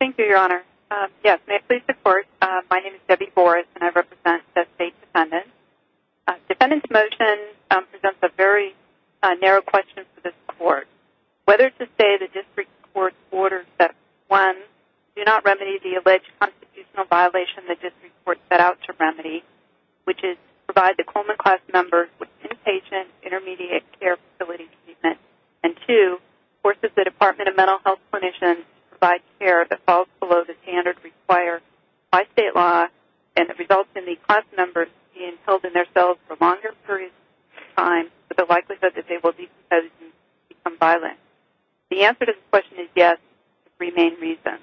Thank you, Your Honor. Yes, may I please report? My name is Debbie Boris and I represent the State Defendant. Defendant's motion presents a very narrow question for this court. Whether to say the district court orders that, one, do not remedy the alleged constitutional violation the district court set out to remedy, which is to provide the Coleman class member with inpatient intermediate care facility treatment, and two, forces the Department of Mental Health Clinicians to provide care that falls below the standard required by state law and that results in the class members being held in their cells for longer periods of time with the likelihood that they will become violent. The answer to this question is yes for three main reasons.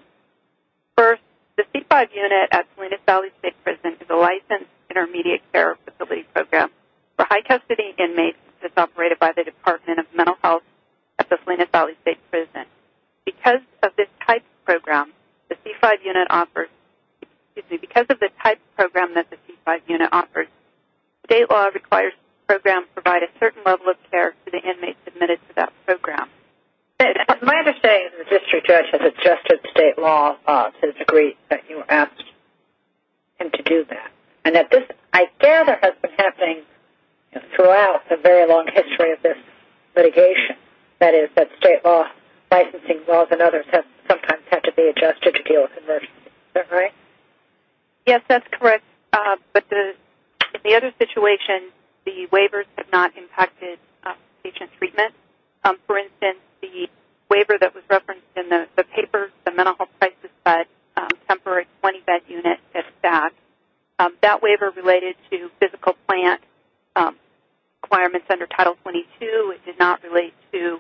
First, the C-5 unit at Salinas Valley State Prison is a licensed intermediate care facility program for high custody inmates that's operated by the Department of Mental Health at the Salinas Valley State Prison. Because of this type of program that the C-5 unit offers, state law requires the program provide a certain level of care to the inmates admitted to that program. My understanding is the district judge has adjusted state law to the degree that you asked him to do that. And that this, I gather, has been happening throughout the very long history of this litigation. That is, that state law licensing laws and others have sometimes had to be adjusted to deal with emergencies. Is that right? Yes, that's correct. But the other situation, the waivers have not impacted patient treatment. For instance, the waiver that was referenced in the paper, the mental health crisis bud temporary 20-bed unit at SAC, that waiver related to physical plant requirements under Title 22. It did not relate to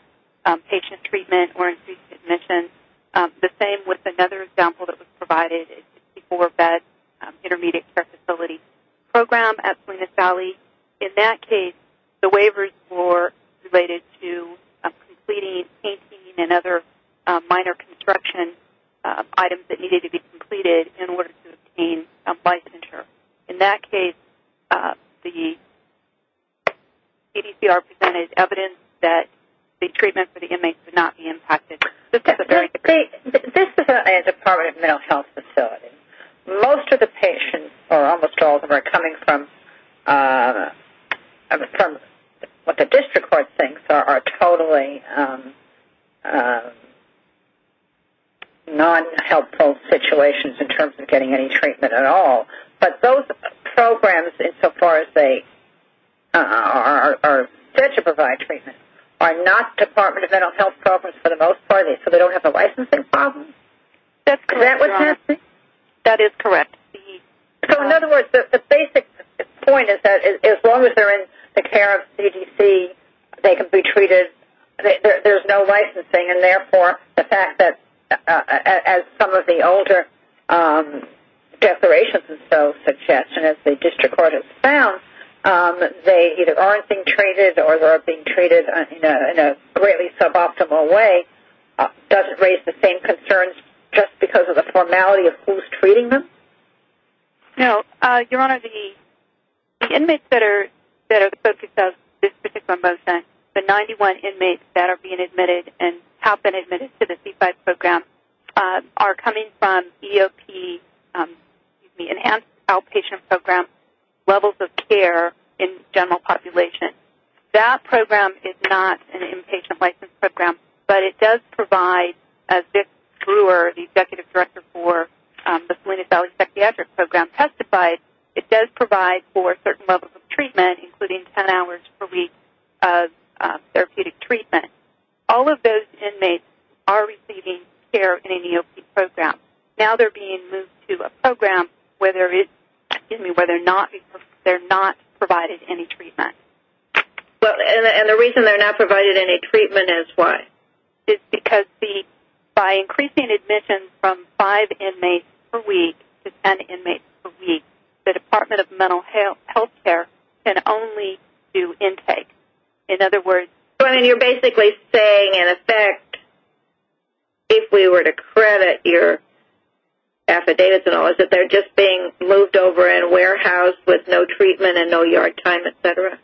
patient treatment or increased admission. The same with another example that was provided, a 64-bed intermediate care facility program at Salinas Valley. In that case, the waivers were related to completing, painting, and other minor construction items that needed to be completed in order to obtain licensure. In that case, the CDCR presented evidence that the treatment for the inmates would not be impacted. This is a Department of Mental Health facility. Most of the patients, or almost all of them, are coming from what the district court thinks are totally non-helpful situations in terms of getting any treatment at all. But those programs, insofar as they are set to provide treatment, are not Department of Mental Health programs for the most part. So they don't have a licensing problem. That's correct. Is that what you're asking? That is correct. So, in other words, the basic point is that as long as they're in the care of CDC, they can be treated. There's no licensing, and therefore the fact that, as some of the older declarations and so suggest, and as the district court has found, they either aren't being treated or they're being treated in a greatly suboptimal way, does it raise the same concerns just because of the formality of who's treating them? No. Your Honor, the inmates that are the focus of this particular motion, the 91 inmates that are being admitted and have been admitted to the C-5 program, are coming from EOP, the Enhanced Outpatient Program, levels of care in general population. That program is not an inpatient license program, but it does provide, as this brewer, the executive director for the Salinas Valley Psychiatric Program testified, it does provide for certain levels of treatment, including 10 hours per week of therapeutic treatment. All of those inmates are receiving care in an EOP program. Now they're being moved to a program where they're not provided any treatment. And the reason they're not provided any treatment is why? It's because by increasing admissions from five inmates per week to 10 inmates per week, the Department of Mental Health Care can only do intake. So you're basically saying, in effect, if we were to credit your affidavits and all, is that they're just being moved over and warehoused with no treatment and no yard time, et cetera?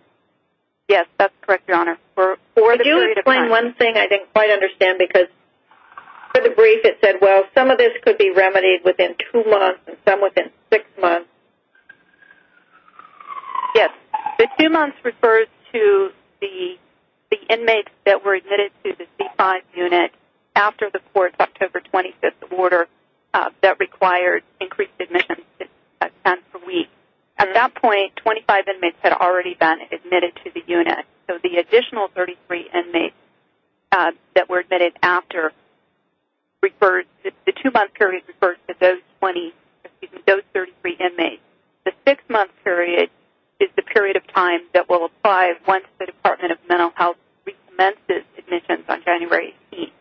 Yes, that's correct, Your Honor. Could you explain one thing I didn't quite understand? Because for the brief it said, well, some of this could be remedied within two months and some within six months. Yes. The two months refers to the inmates that were admitted to the C5 unit after the court's October 25th order that required increased admissions at 10 per week. At that point, 25 inmates had already been admitted to the unit. So the additional 33 inmates that were admitted after the two-month period refers to those 30 inmates. The six-month period is the period of time that will apply once the Department of Mental Health recommences admissions on January 18th.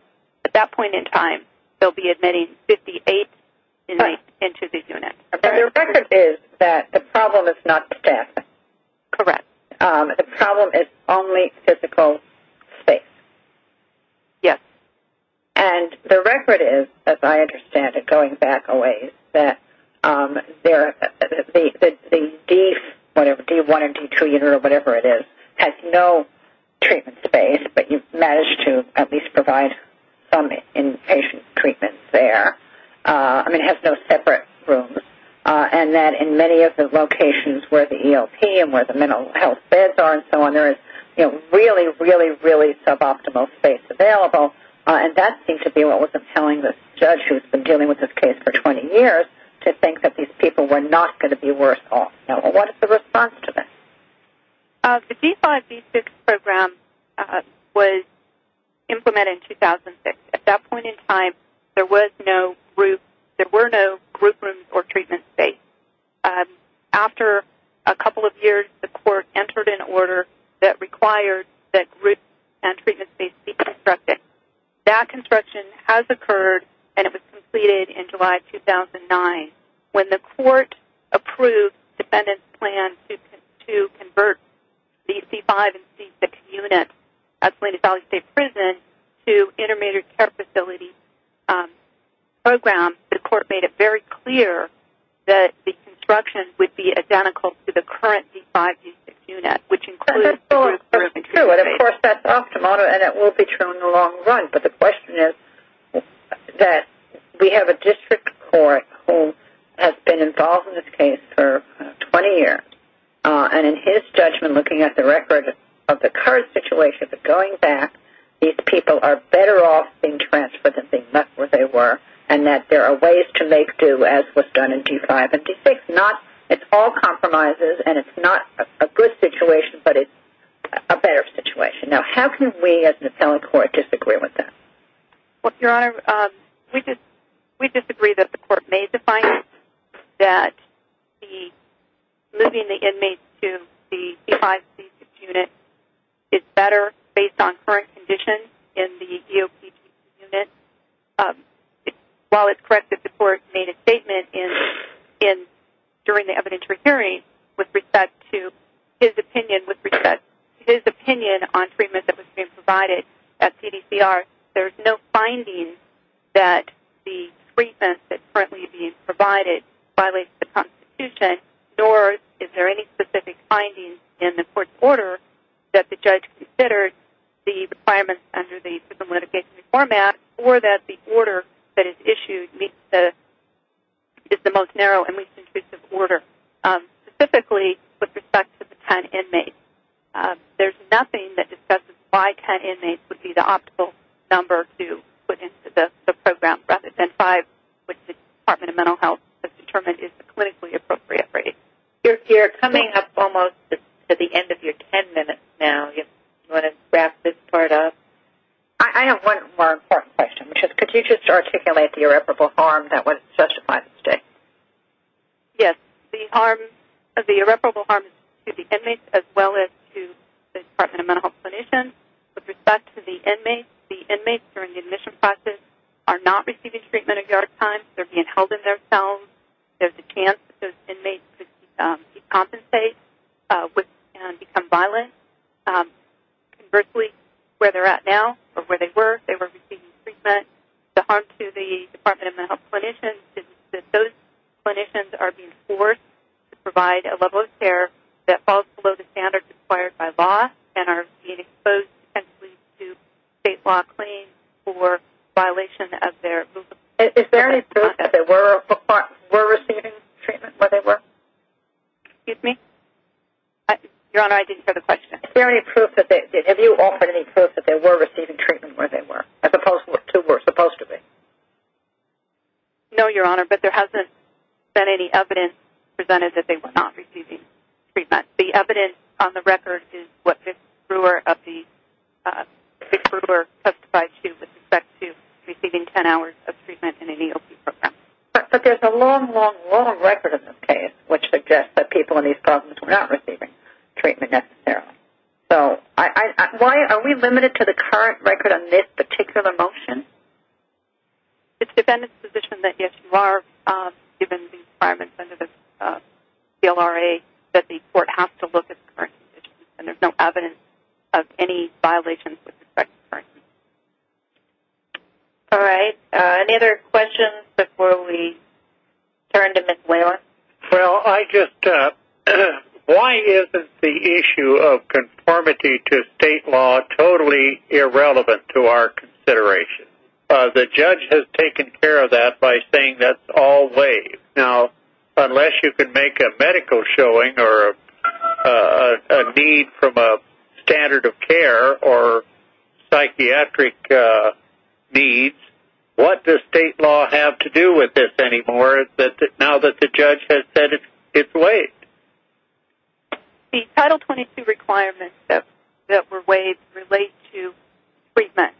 At that point in time, they'll be admitting 58 inmates into the unit. And the record is that the problem is not the death. Correct. The problem is only physical space. Yes. And the record is, as I understand it, going back a ways, that the D1 and D2 unit or whatever it is, has no treatment space, but you've managed to at least provide some inpatient treatment there. I mean, it has no separate rooms. And that in many of the locations where the ELP and where the mental health beds are and so on, there is really, really, really suboptimal space available. And that seemed to be what was compelling this judge who's been dealing with this case for 20 years to think that these people were not going to be worse off. What is the response to this? The D5, D6 program was implemented in 2006. At that point in time, there were no group rooms or treatment space. After a couple of years, the court entered an order that required that group and treatment space be constructed. That construction has occurred, and it was completed in July 2009. When the court approved defendant's plan to convert the C5 and C6 units at Salina Valley State Prison to intermediate care facility programs, the court made it very clear that the construction would be identical to the current D5, D6 unit, which includes the group room and treatment space. That's absolutely true, and, of course, that's optimal, and it will be true in the long run. But the question is that we have a district court who has been involved in this case for 20 years, and in his judgment, looking at the record of the current situation, going back, these people are better off being transferred than being left where they were, and that there are ways to make do, as was done in D5 and D6. It's all compromises, and it's not a good situation, but it's a better situation. Now, how can we as an appellate court disagree with that? Well, Your Honor, we disagree that the court may define that the moving the inmates to the D5, D6 unit is better based on current conditions in the DOP unit. While it's correct that the court made a statement during the evidentiary hearing with respect to his opinion on treatment that was being provided at CDCR, there's no finding that the treatment that's currently being provided violates the Constitution, nor is there any specific finding in the court's order that the judge considered the requirements under the prison litigation format or that the order that is issued is the most narrow and least intrusive order, specifically with respect to the 10 inmates. There's nothing that discusses why 10 inmates would be the optimal number to put into the program, rather than five, which the Department of Mental Health has determined is the clinically appropriate rate. You're coming up almost to the end of your 10 minutes now. Do you want to wrap this part up? I have one more important question, which is, could you just articulate the irreparable harm that was justified this day? Yes. The irreparable harm is to the inmates as well as to the Department of Mental Health clinicians. With respect to the inmates, the inmates during the admission process are not receiving treatment at guard time. They're being held in their cells. There's a chance that those inmates could decompensate and become violent. Conversely, where they're at now or where they were, they were receiving treatment. The harm to the Department of Mental Health clinicians is that those clinicians are being forced to provide a level of care that falls below the standards required by law and are being exposed potentially to state law claims for violation of their movement. Is there any proof that they were receiving treatment where they were? Excuse me? Your Honor, I didn't hear the question. Have you offered any proof that they were receiving treatment where they were as opposed to what they were supposed to be? No, Your Honor, but there hasn't been any evidence presented that they were not receiving treatment. The evidence on the record is what Ms. Brewer testified to with respect to receiving 10 hours of treatment in an EOP program. But there's a long, long, long record in this case which suggests that people in these programs were not receiving treatment necessarily. So are we limited to the current record on this particular motion? It's the defendant's position that if you are given the requirements under the CLRA that the court has to look at the current position and there's no evidence of any violations with respect to the current position. All right. Any other questions before we turn to Ms. Whalen? Well, I just – why isn't the issue of conformity to state law totally irrelevant to our consideration? The judge has taken care of that by saying that's all wave. Now, unless you can make a medical showing or a need from a standard of care or psychiatric needs, what does state law have to do with this anymore now that the judge has said it's waived? The Title 22 requirements that were waived relate to treatment.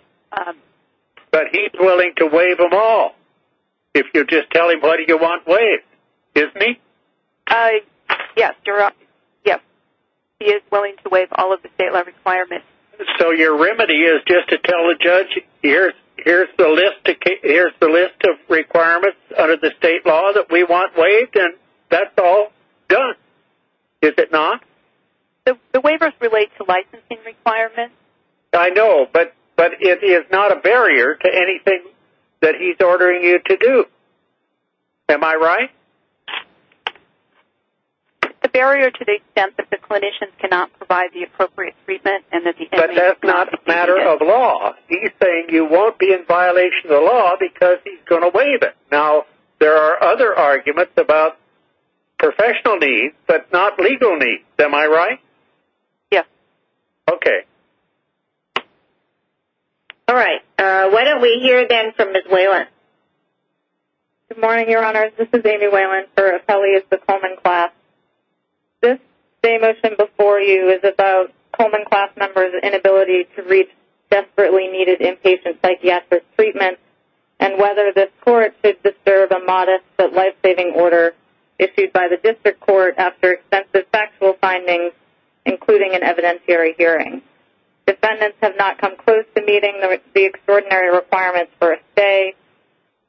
But he's willing to waive them all if you just tell him what you want waived, isn't he? Yes. He is willing to waive all of the state law requirements. So your remedy is just to tell the judge here's the list of requirements under the state law that we want waived and that's all done, is it not? The waivers relate to licensing requirements. I know, but it is not a barrier to anything that he's ordering you to do. Am I right? It's a barrier to the extent that the clinicians cannot provide the appropriate treatment and that the – But that's not a matter of law. He's saying you won't be in violation of the law because he's going to waive it. Now, there are other arguments about professional needs but not legal needs. Am I right? Yes. Okay. All right. Why don't we hear again from Ms. Whalen. Good morning, Your Honors. This is Amy Whalen for Appellees of the Coleman Class. This day motion before you is about Coleman Class members' inability to reach desperately needed inpatient psychiatric treatment and whether this court should disturb a modest but life-saving order issued by the district court after extensive factual findings, including an evidentiary hearing. Defendants have not come close to meeting the extraordinary requirements for a stay.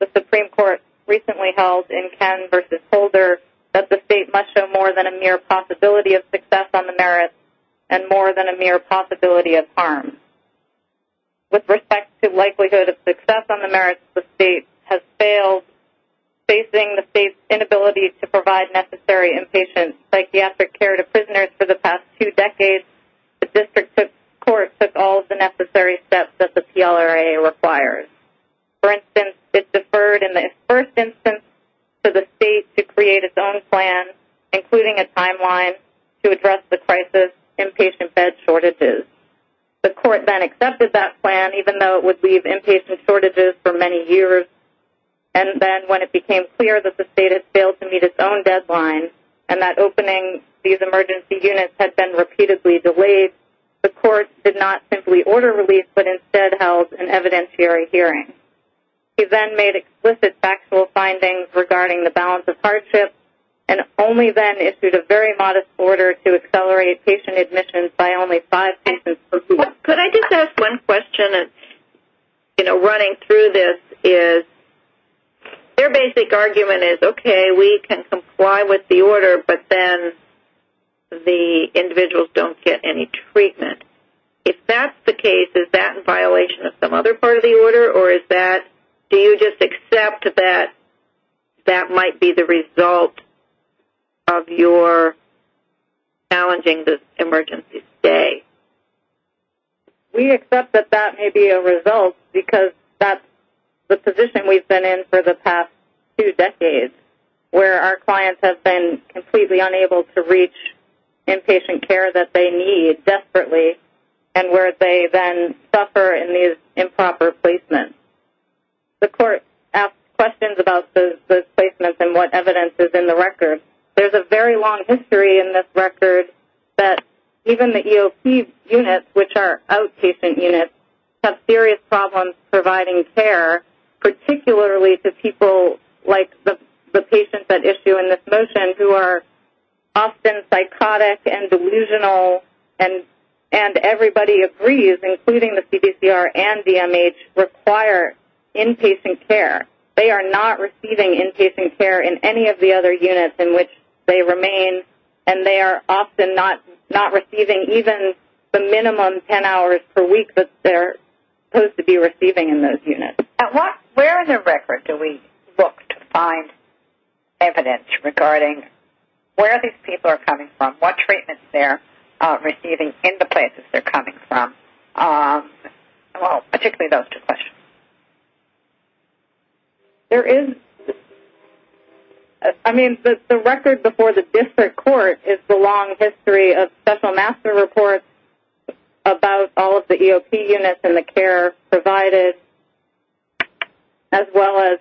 The Supreme Court recently held in Ken v. Holder that the state must show more than a mere possibility of success on the merits and more than a mere possibility of harm. With respect to likelihood of success on the merits, the state has failed. Facing the state's inability to provide necessary inpatient psychiatric care to prisoners for the past two decades, the district court took all of the necessary steps that the PLRA requires. For instance, it deferred in the first instance to the state to create its own plan, including a timeline to address the crisis, inpatient bed shortages. The court then accepted that plan, even though it would leave inpatient shortages for many years. And then when it became clear that the state had failed to meet its own deadline and that opening these emergency units had been repeatedly delayed, the court did not simply order release but instead held an evidentiary hearing. It then made explicit factual findings regarding the balance of hardship and only then issued a very modest order to accelerate patient admissions by only five patients per group. Could I just ask one question? Running through this, their basic argument is, okay, we can comply with the order, but then the individuals don't get any treatment. If that's the case, is that in violation of some other part of the order, or do you just accept that that might be the result of your challenging this emergency stay? We accept that that may be a result because that's the position we've been in for the past two decades, where our clients have been completely unable to reach inpatient care that they need desperately and where they then suffer in these improper placements. The court asked questions about those placements and what evidence is in the record. There's a very long history in this record that even the EOP units, which are outpatient units, have serious problems providing care, particularly to people like the patients at issue in this motion, who are often psychotic and delusional, and everybody agrees, including the CDCR and DMH, require inpatient care. They are not receiving inpatient care in any of the other units in which they remain, and they are often not receiving even the minimum 10 hours per week that they're supposed to be receiving in those units. Where in the record do we look to find evidence regarding where these people are coming from, what treatments they're receiving in the places they're coming from, particularly those two questions? The record before the district court is the long history of special master reports about all of the EOP units and the care provided, as well as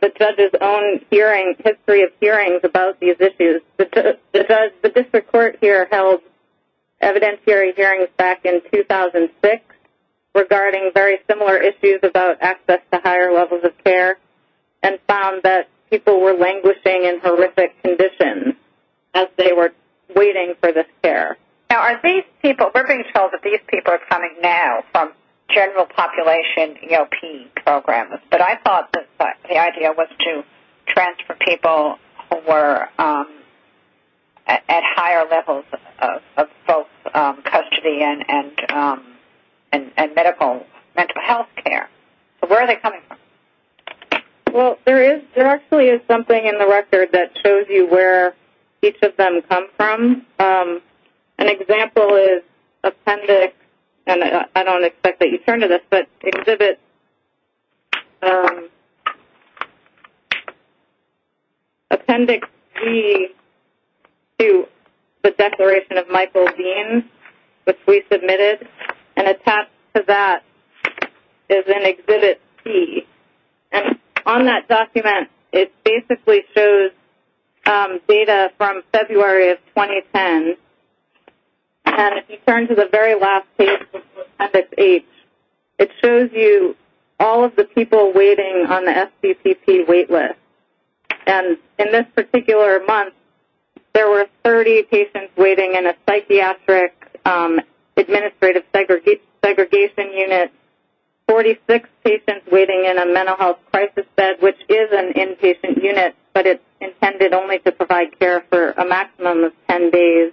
the judge's own history of hearings about these issues. The district court here held evidentiary hearings back in 2006 regarding very similar issues about access to higher levels of care and found that people were languishing in horrific conditions as they were waiting for this care. Now, we're being told that these people are coming now from general population EOP programs, but I thought the idea was to transfer people who were at higher levels of both custody and medical health care. So where are they coming from? Well, there actually is something in the record that shows you where each of them come from. An example is appendix, and I don't expect that you turn to this, but Appendix C to the Declaration of Michael Dean, which we submitted, and attached to that is in Exhibit C. And on that document, it basically shows data from February of 2010. And if you turn to the very last page, Appendix H, it shows you all of the people waiting on the SBCP wait list. And in this particular month, there were 30 patients waiting in a psychiatric administrative segregation unit, 46 patients waiting in a mental health crisis bed, which is an inpatient unit, but it's intended only to provide care for a maximum of 10 days.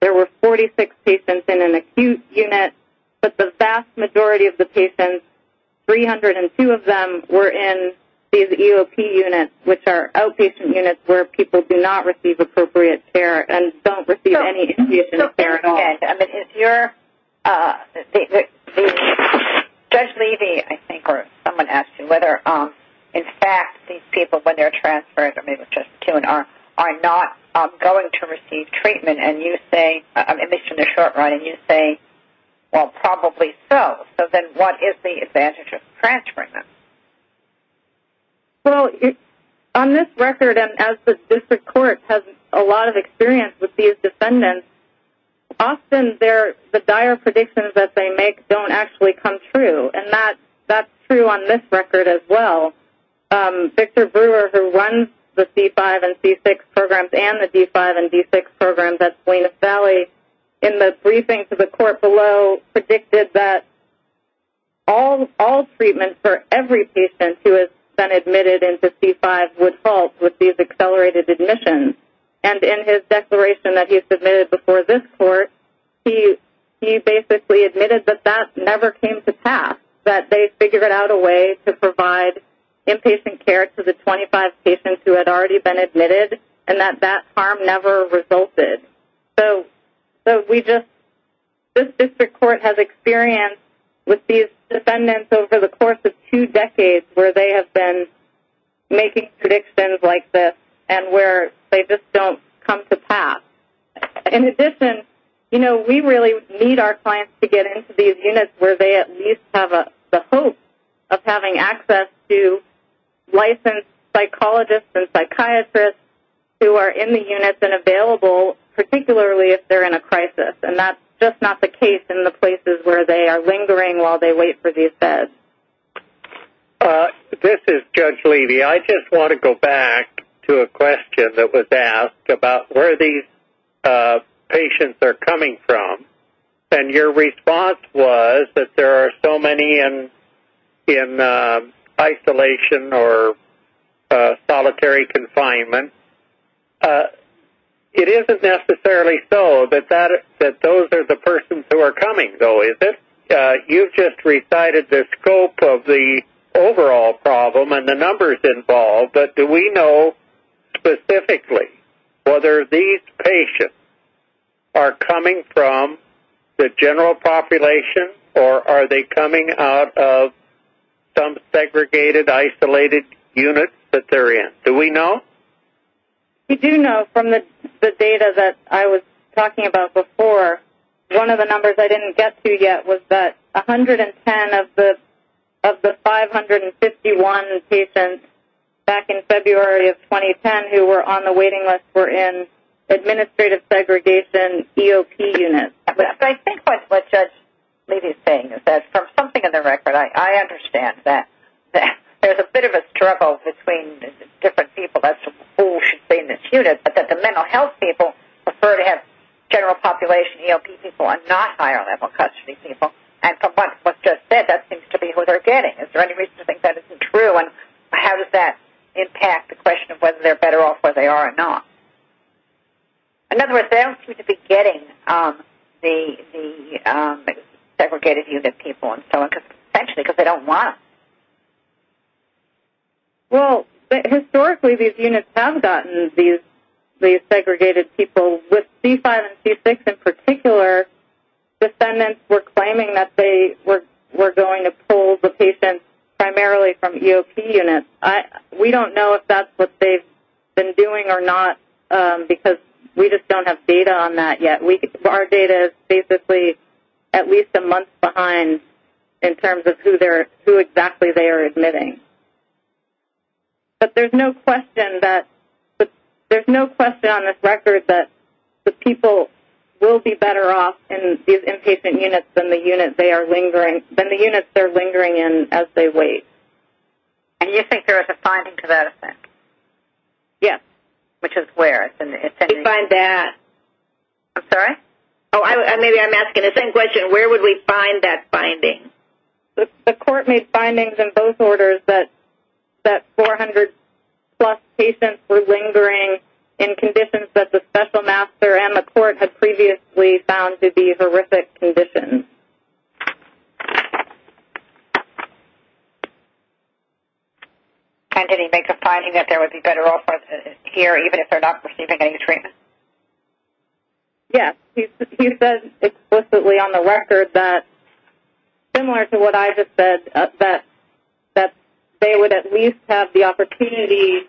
There were 46 patients in an acute unit, but the vast majority of the patients, 302 of them, were in these EOP units, which are outpatient units where people do not receive appropriate care and don't receive any inpatient care at all. Judge Levy, I think, or someone asked you whether, in fact, these people, when they're transferred, or maybe it was just Q&R, are not going to receive treatment, at least in the short run, and you say, well, probably so. So then what is the advantage of transferring them? Well, on this record, and as the district court has a lot of experience with these defendants, often the dire predictions that they make don't actually come true, and that's true on this record as well. Victor Brewer, who runs the C5 and C6 programs and the D5 and D6 programs at Salinas Valley, in the briefing to the court below predicted that all treatment for every patient who has been admitted into C5 would halt with these accelerated admissions, and in his declaration that he submitted before this court, he basically admitted that that never came to pass, that they figured out a way to provide inpatient care to the 25 patients who had already been admitted and that that harm never resulted. So this district court has experience with these defendants over the course of two decades where they have been making predictions like this and where they just don't come to pass. In addition, we really need our clients to get into these units where they at least have the hope of having access to licensed psychologists and psychiatrists who are in the units and available, particularly if they're in a crisis, and that's just not the case in the places where they are lingering while they wait for these beds. This is Judge Levy. I just want to go back to a question that was asked about where these patients are coming from, and your response was that there are so many in isolation or solitary confinement. It isn't necessarily so that those are the persons who are coming, though, is it? You just recited the scope of the overall problem and the numbers involved, but do we know specifically whether these patients are coming from the general population or are they coming out of some segregated, isolated units that they're in? Do we know? We do know from the data that I was talking about before. One of the numbers I didn't get to yet was that 110 of the 551 patients back in February of 2010 who were on the waiting list were in administrative segregation EOP units. I think what Judge Levy is saying is that from something in the record, I understand that there's a bit of a struggle between different people as to who should stay in this unit, but that the mental health people prefer to have general population EOP people and not higher level custody people, and from what was just said, that seems to be who they're getting. Is there any reason to think that isn't true, and how does that impact the question of whether they're better off where they are or not? In other words, they don't seem to be getting the segregated unit people and so on, potentially because they don't want them. Well, historically these units have gotten these segregated people. With C5 and C6 in particular, descendants were claiming that they were going to pull the patients primarily from EOP units. We don't know if that's what they've been doing or not because we just don't have data on that yet. Our data is basically at least a month behind in terms of who exactly they are admitting. But there's no question on this record that the people will be better off in these inpatient units than the units they're lingering in as they wait. And you think there is a finding to that effect? Yes. Which is where? Where would we find that? I'm sorry? Maybe I'm asking the same question. Where would we find that finding? The court made findings in both orders that 400-plus patients were lingering in conditions that the special master and the court had previously found to be horrific conditions. And did he make a finding that there would be better off here even if they're not receiving any treatment? Yes. He said explicitly on the record that, similar to what I just said, that they would at least have the opportunity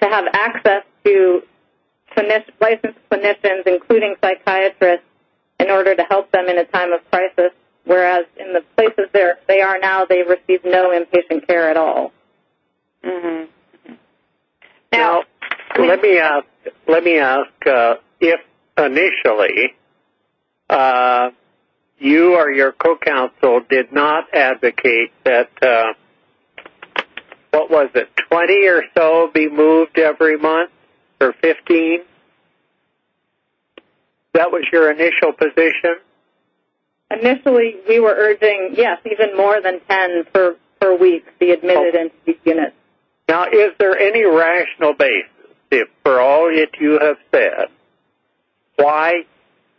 to have access to licensed clinicians, including psychiatrists, in order to help them in a time of crisis. Whereas in the places they are now, they receive no inpatient care at all. Mm-hmm. Now, let me ask if initially you or your co-counsel did not advocate that, what was it, 20 or so be moved every month or 15? That was your initial position? Initially, we were urging, yes, even more than 10 per week, the admitted entity unit. Now, is there any rational basis for all that you have said? Why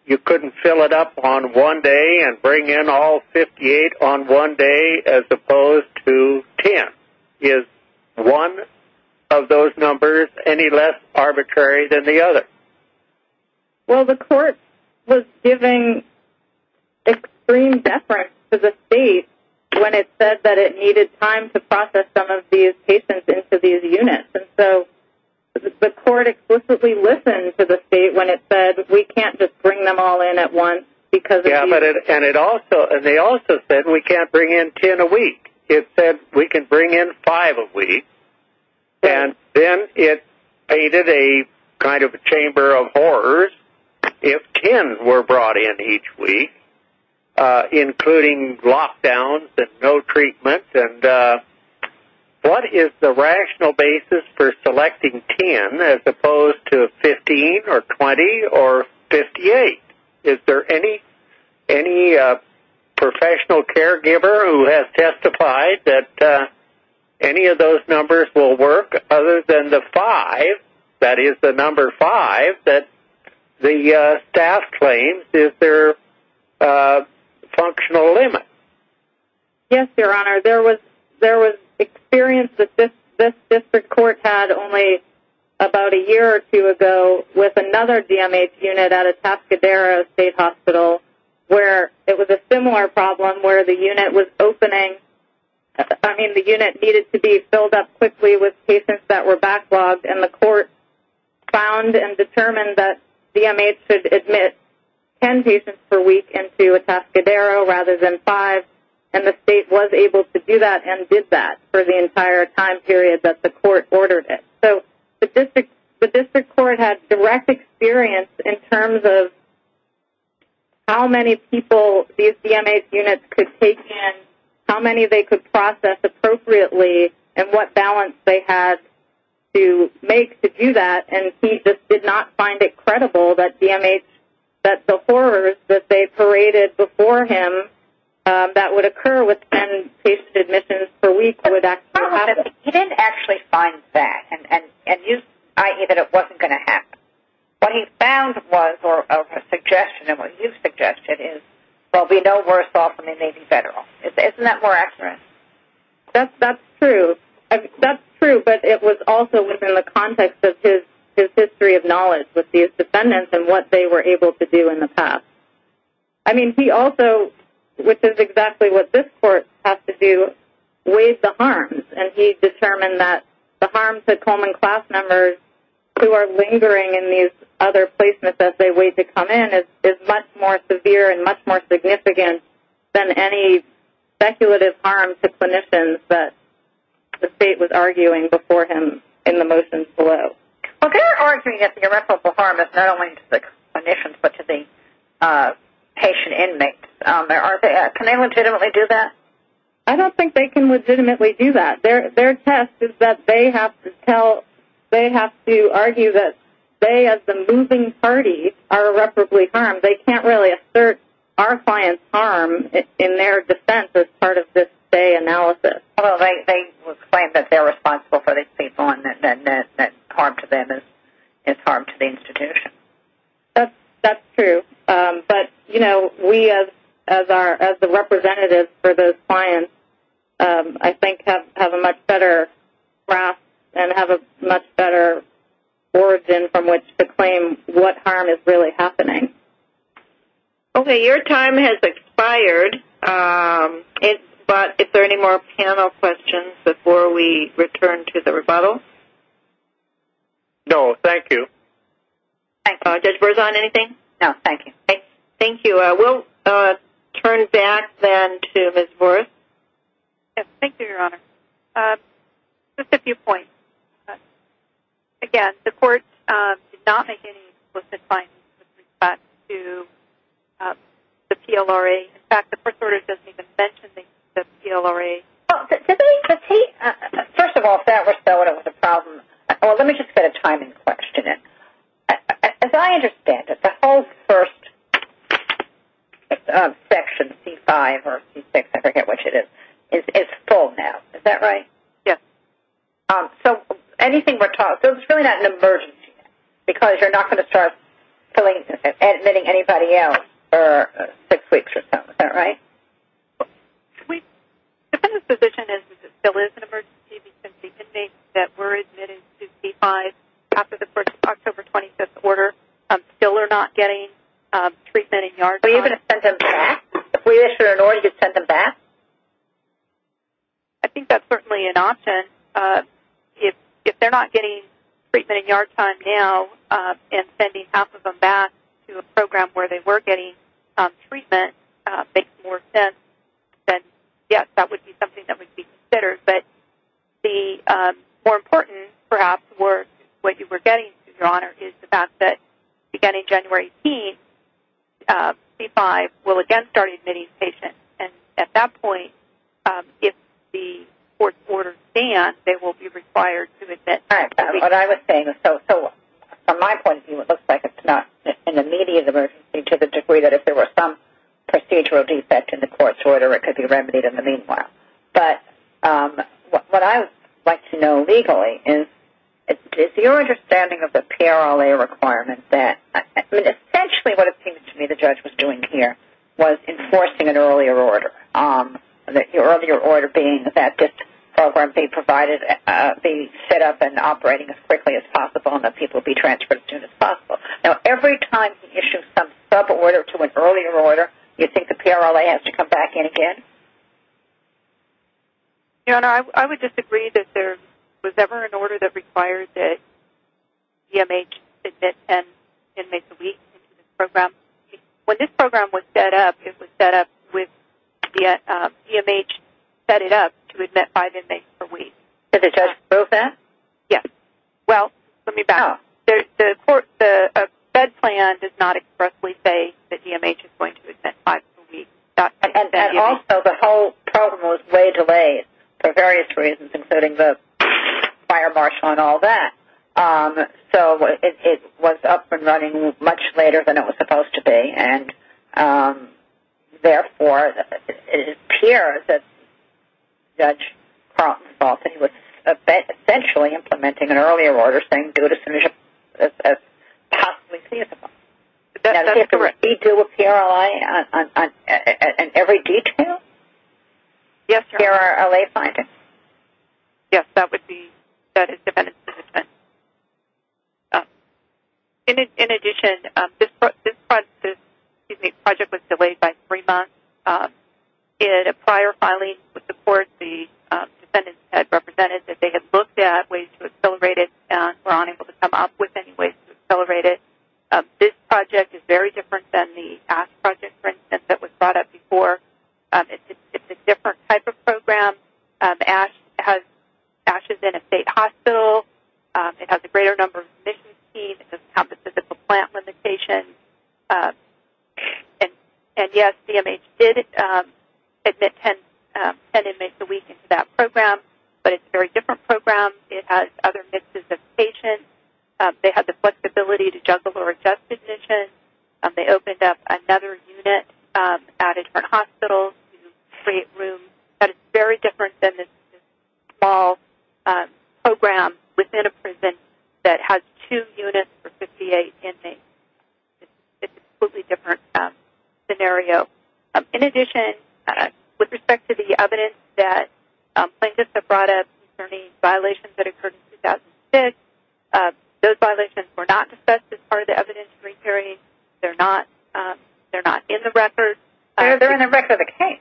you couldn't fill it up on one day and bring in all 58 on one day as opposed to 10? Is one of those numbers any less arbitrary than the other? Well, the court was giving extreme deference to the state when it said that it needed time to process some of these patients into these units. And so the court explicitly listened to the state when it said, we can't just bring them all in at once because of the units. And they also said, we can't bring in 10 a week. It said, we can bring in five a week. And then it created a kind of a chamber of horrors if 10 were brought in each week, including lockdowns and no treatments. And what is the rational basis for selecting 10 as opposed to 15 or 20 or 58? Is there any professional caregiver who has testified that any of those numbers will work, other than the five, that is the number five that the staff claims, is there a functional limit? Yes, Your Honor. There was experience that this district court had only about a year or two ago with another DMH unit at Atascadero State Hospital where it was a similar problem where the unit needed to be filled up quickly with patients that were backlogged. And the court found and determined that DMH should admit 10 patients per week into Atascadero rather than five. And the state was able to do that and did that for the entire time period that the court ordered it. So the district court had direct experience in terms of how many people these DMH units could take in, how many they could process appropriately, and what balance they had to make to do that. And he just did not find it credible that DMH, that the horrors that they paraded before him, that would occur with 10 patient admissions per week would actually happen. He didn't actually find that, i.e., that it wasn't going to happen. What he found was, or a suggestion, and what you've suggested, is, well, we know worse off when they may be federal. Isn't that more accurate? That's true. That's true, but it was also within the context of his history of knowledge with these defendants and what they were able to do in the past. I mean, he also, which is exactly what this court has to do, weighs the harms. And he determined that the harm to Coleman class members who are lingering in these other placements as they wait to come in is much more severe and much more significant than any speculative harm to clinicians that the state was arguing before him in the motions below. Well, they're arguing that the irreparable harm is not only to the clinicians but to the patient inmates. Can they legitimately do that? I don't think they can legitimately do that. Their test is that they have to argue that they, as the moving party, are irreparably harmed. They can't really assert our client's harm in their defense as part of this Bay analysis. Well, they claim that they're responsible for these people and that harm to them is harm to the institution. That's true. But, you know, we as the representatives for those clients, I think, have a much better grasp and have a much better origin from which to claim what harm is really happening. Okay. Your time has expired, but is there any more panel questions before we return to the rebuttal? No, thank you. Judge Berzon, anything? No, thank you. Thank you. We'll turn back then to Ms. Worth. Thank you, Your Honor. Just a few points. Again, the court did not make any explicit findings with respect to the PLRA. In fact, the first order doesn't even mention the PLRA. First of all, if that were so and it was a problem, well, let me just set a time and question it. As I understand it, the whole first section, C-5 or C-6, I forget which it is, is full now. Is that right? Yes. So anything we're taught, so it's really not an emergency, because you're not going to start admitting anybody else for six weeks or so. Is that right? The defendant's position is that it still is an emergency because the inmates that were admitted to C-5 after the October 25th order still are not getting treatment and yard time. Are you going to send them back? If we issue an order to send them back? I think that's certainly an option. If they're not getting treatment and yard time now and sending half of them back to a program where they were getting treatment and that makes more sense, then, yes, that would be something that would be considered. But the more important, perhaps, what you were getting, Your Honor, is the fact that beginning January 18th, C-5 will again start admitting patients. At that point, if the court's orders stand, they will be required to admit. All right. What I was saying is, so from my point of view, it looks like it's not an immediate emergency to the degree that if there were some procedural defect in the court's order, it could be remedied in the meanwhile. But what I would like to know legally is, is your understanding of the PRLA requirement that, essentially what it seems to me the judge was doing here was enforcing an earlier order, the earlier order being that this program be set up and operating as quickly as possible and that people be transferred as soon as possible. Now, every time he issues some suborder to an earlier order, do you think the PRLA has to come back in again? Your Honor, I would disagree that there was ever an order that required the DMH to admit 10 inmates a week into this program. When this program was set up, it was set up with the DMH set it up to admit five inmates per week. Did the judge approve that? Yes. Well, let me back up. The fed plan does not expressly say that DMH is going to admit five people a week. And also the whole program was way delayed for various reasons, including the fire marshal and all that. So it was up and running much later than it was supposed to be, and therefore it appears that Judge Carlton-Faulton was essentially implementing an earlier order as possibly feasible. Does he do a PRLI on every detail? Yes, Your Honor. PRLA findings? Yes, that is defendant's assessment. In addition, this project was delayed by three months. In a prior filing with the court, the defendants had represented that they had looked at ways to accelerate it and were unable to come up with any ways to accelerate it. This project is very different than the ASH project, for instance, that was brought up before. It's a different type of program. ASH is in a state hospital. It has a greater number of admissions fees. It doesn't have the physical plant limitation. And, yes, CMH did admit 10 inmates a week into that program, but it's a very different program. It has other mixes of patients. They had the flexibility to juggle or adjust admissions. They opened up another unit at a different hospital to create rooms. That is very different than this small program within a prison that has two units for 58 inmates. It's a completely different scenario. In addition, with respect to the evidence that plaintiffs have brought up concerning violations that occurred in 2006, those violations were not discussed as part of the evidence we're carrying. They're not in the record. They're in the record of the case.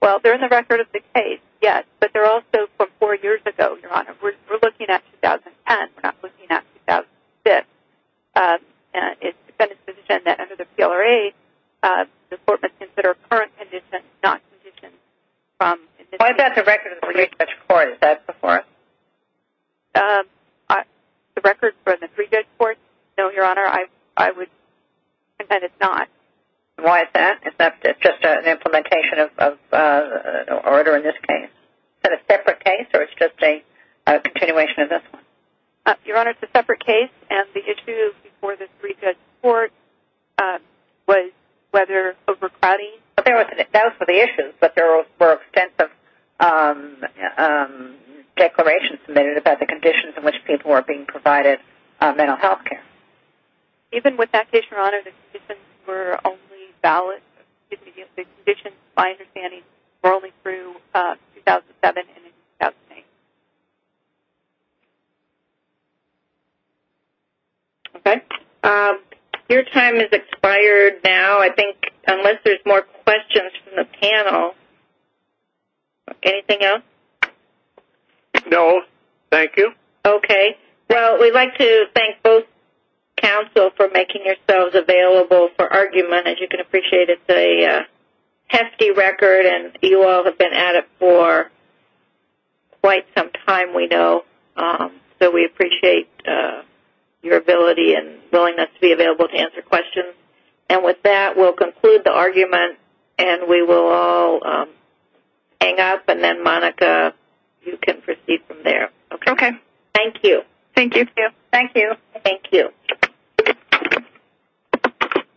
Well, they're in the record of the case, yes, but they're also from four years ago, Your Honor. We're looking at 2010. We're not looking at 2006. It's been a position that under the PLRA, the court must consider current conditions, not conditions from- Why is that the record of the three-judge court? Is that before us? The record for the three-judge court? No, Your Honor. I would contend it's not. Why is that? It's just an implementation of an order in this case. Is that a separate case, or it's just a continuation of this one? Your Honor, it's a separate case, and the issue before the three-judge court was whether overcrowding- That was for the issues, but there were extensive declarations submitted about the conditions in which people were being provided mental health care. Even with that case, Your Honor, the conditions were only valid-the conditions, my understanding, were only through 2007 and 2008. Okay. Your time has expired now, I think, unless there's more questions from the panel. Anything else? No, thank you. Okay. Well, we'd like to thank both counsel for making yourselves available for argument. As you can appreciate, it's a hefty record, and you all have been at it for quite some time, we know, so we appreciate your ability and willingness to be available to answer questions. And with that, we'll conclude the argument, and we will all hang up, and then, Monica, you can proceed from there. Okay. Thank you. Thank you. Thank you. Thank you. Thank you.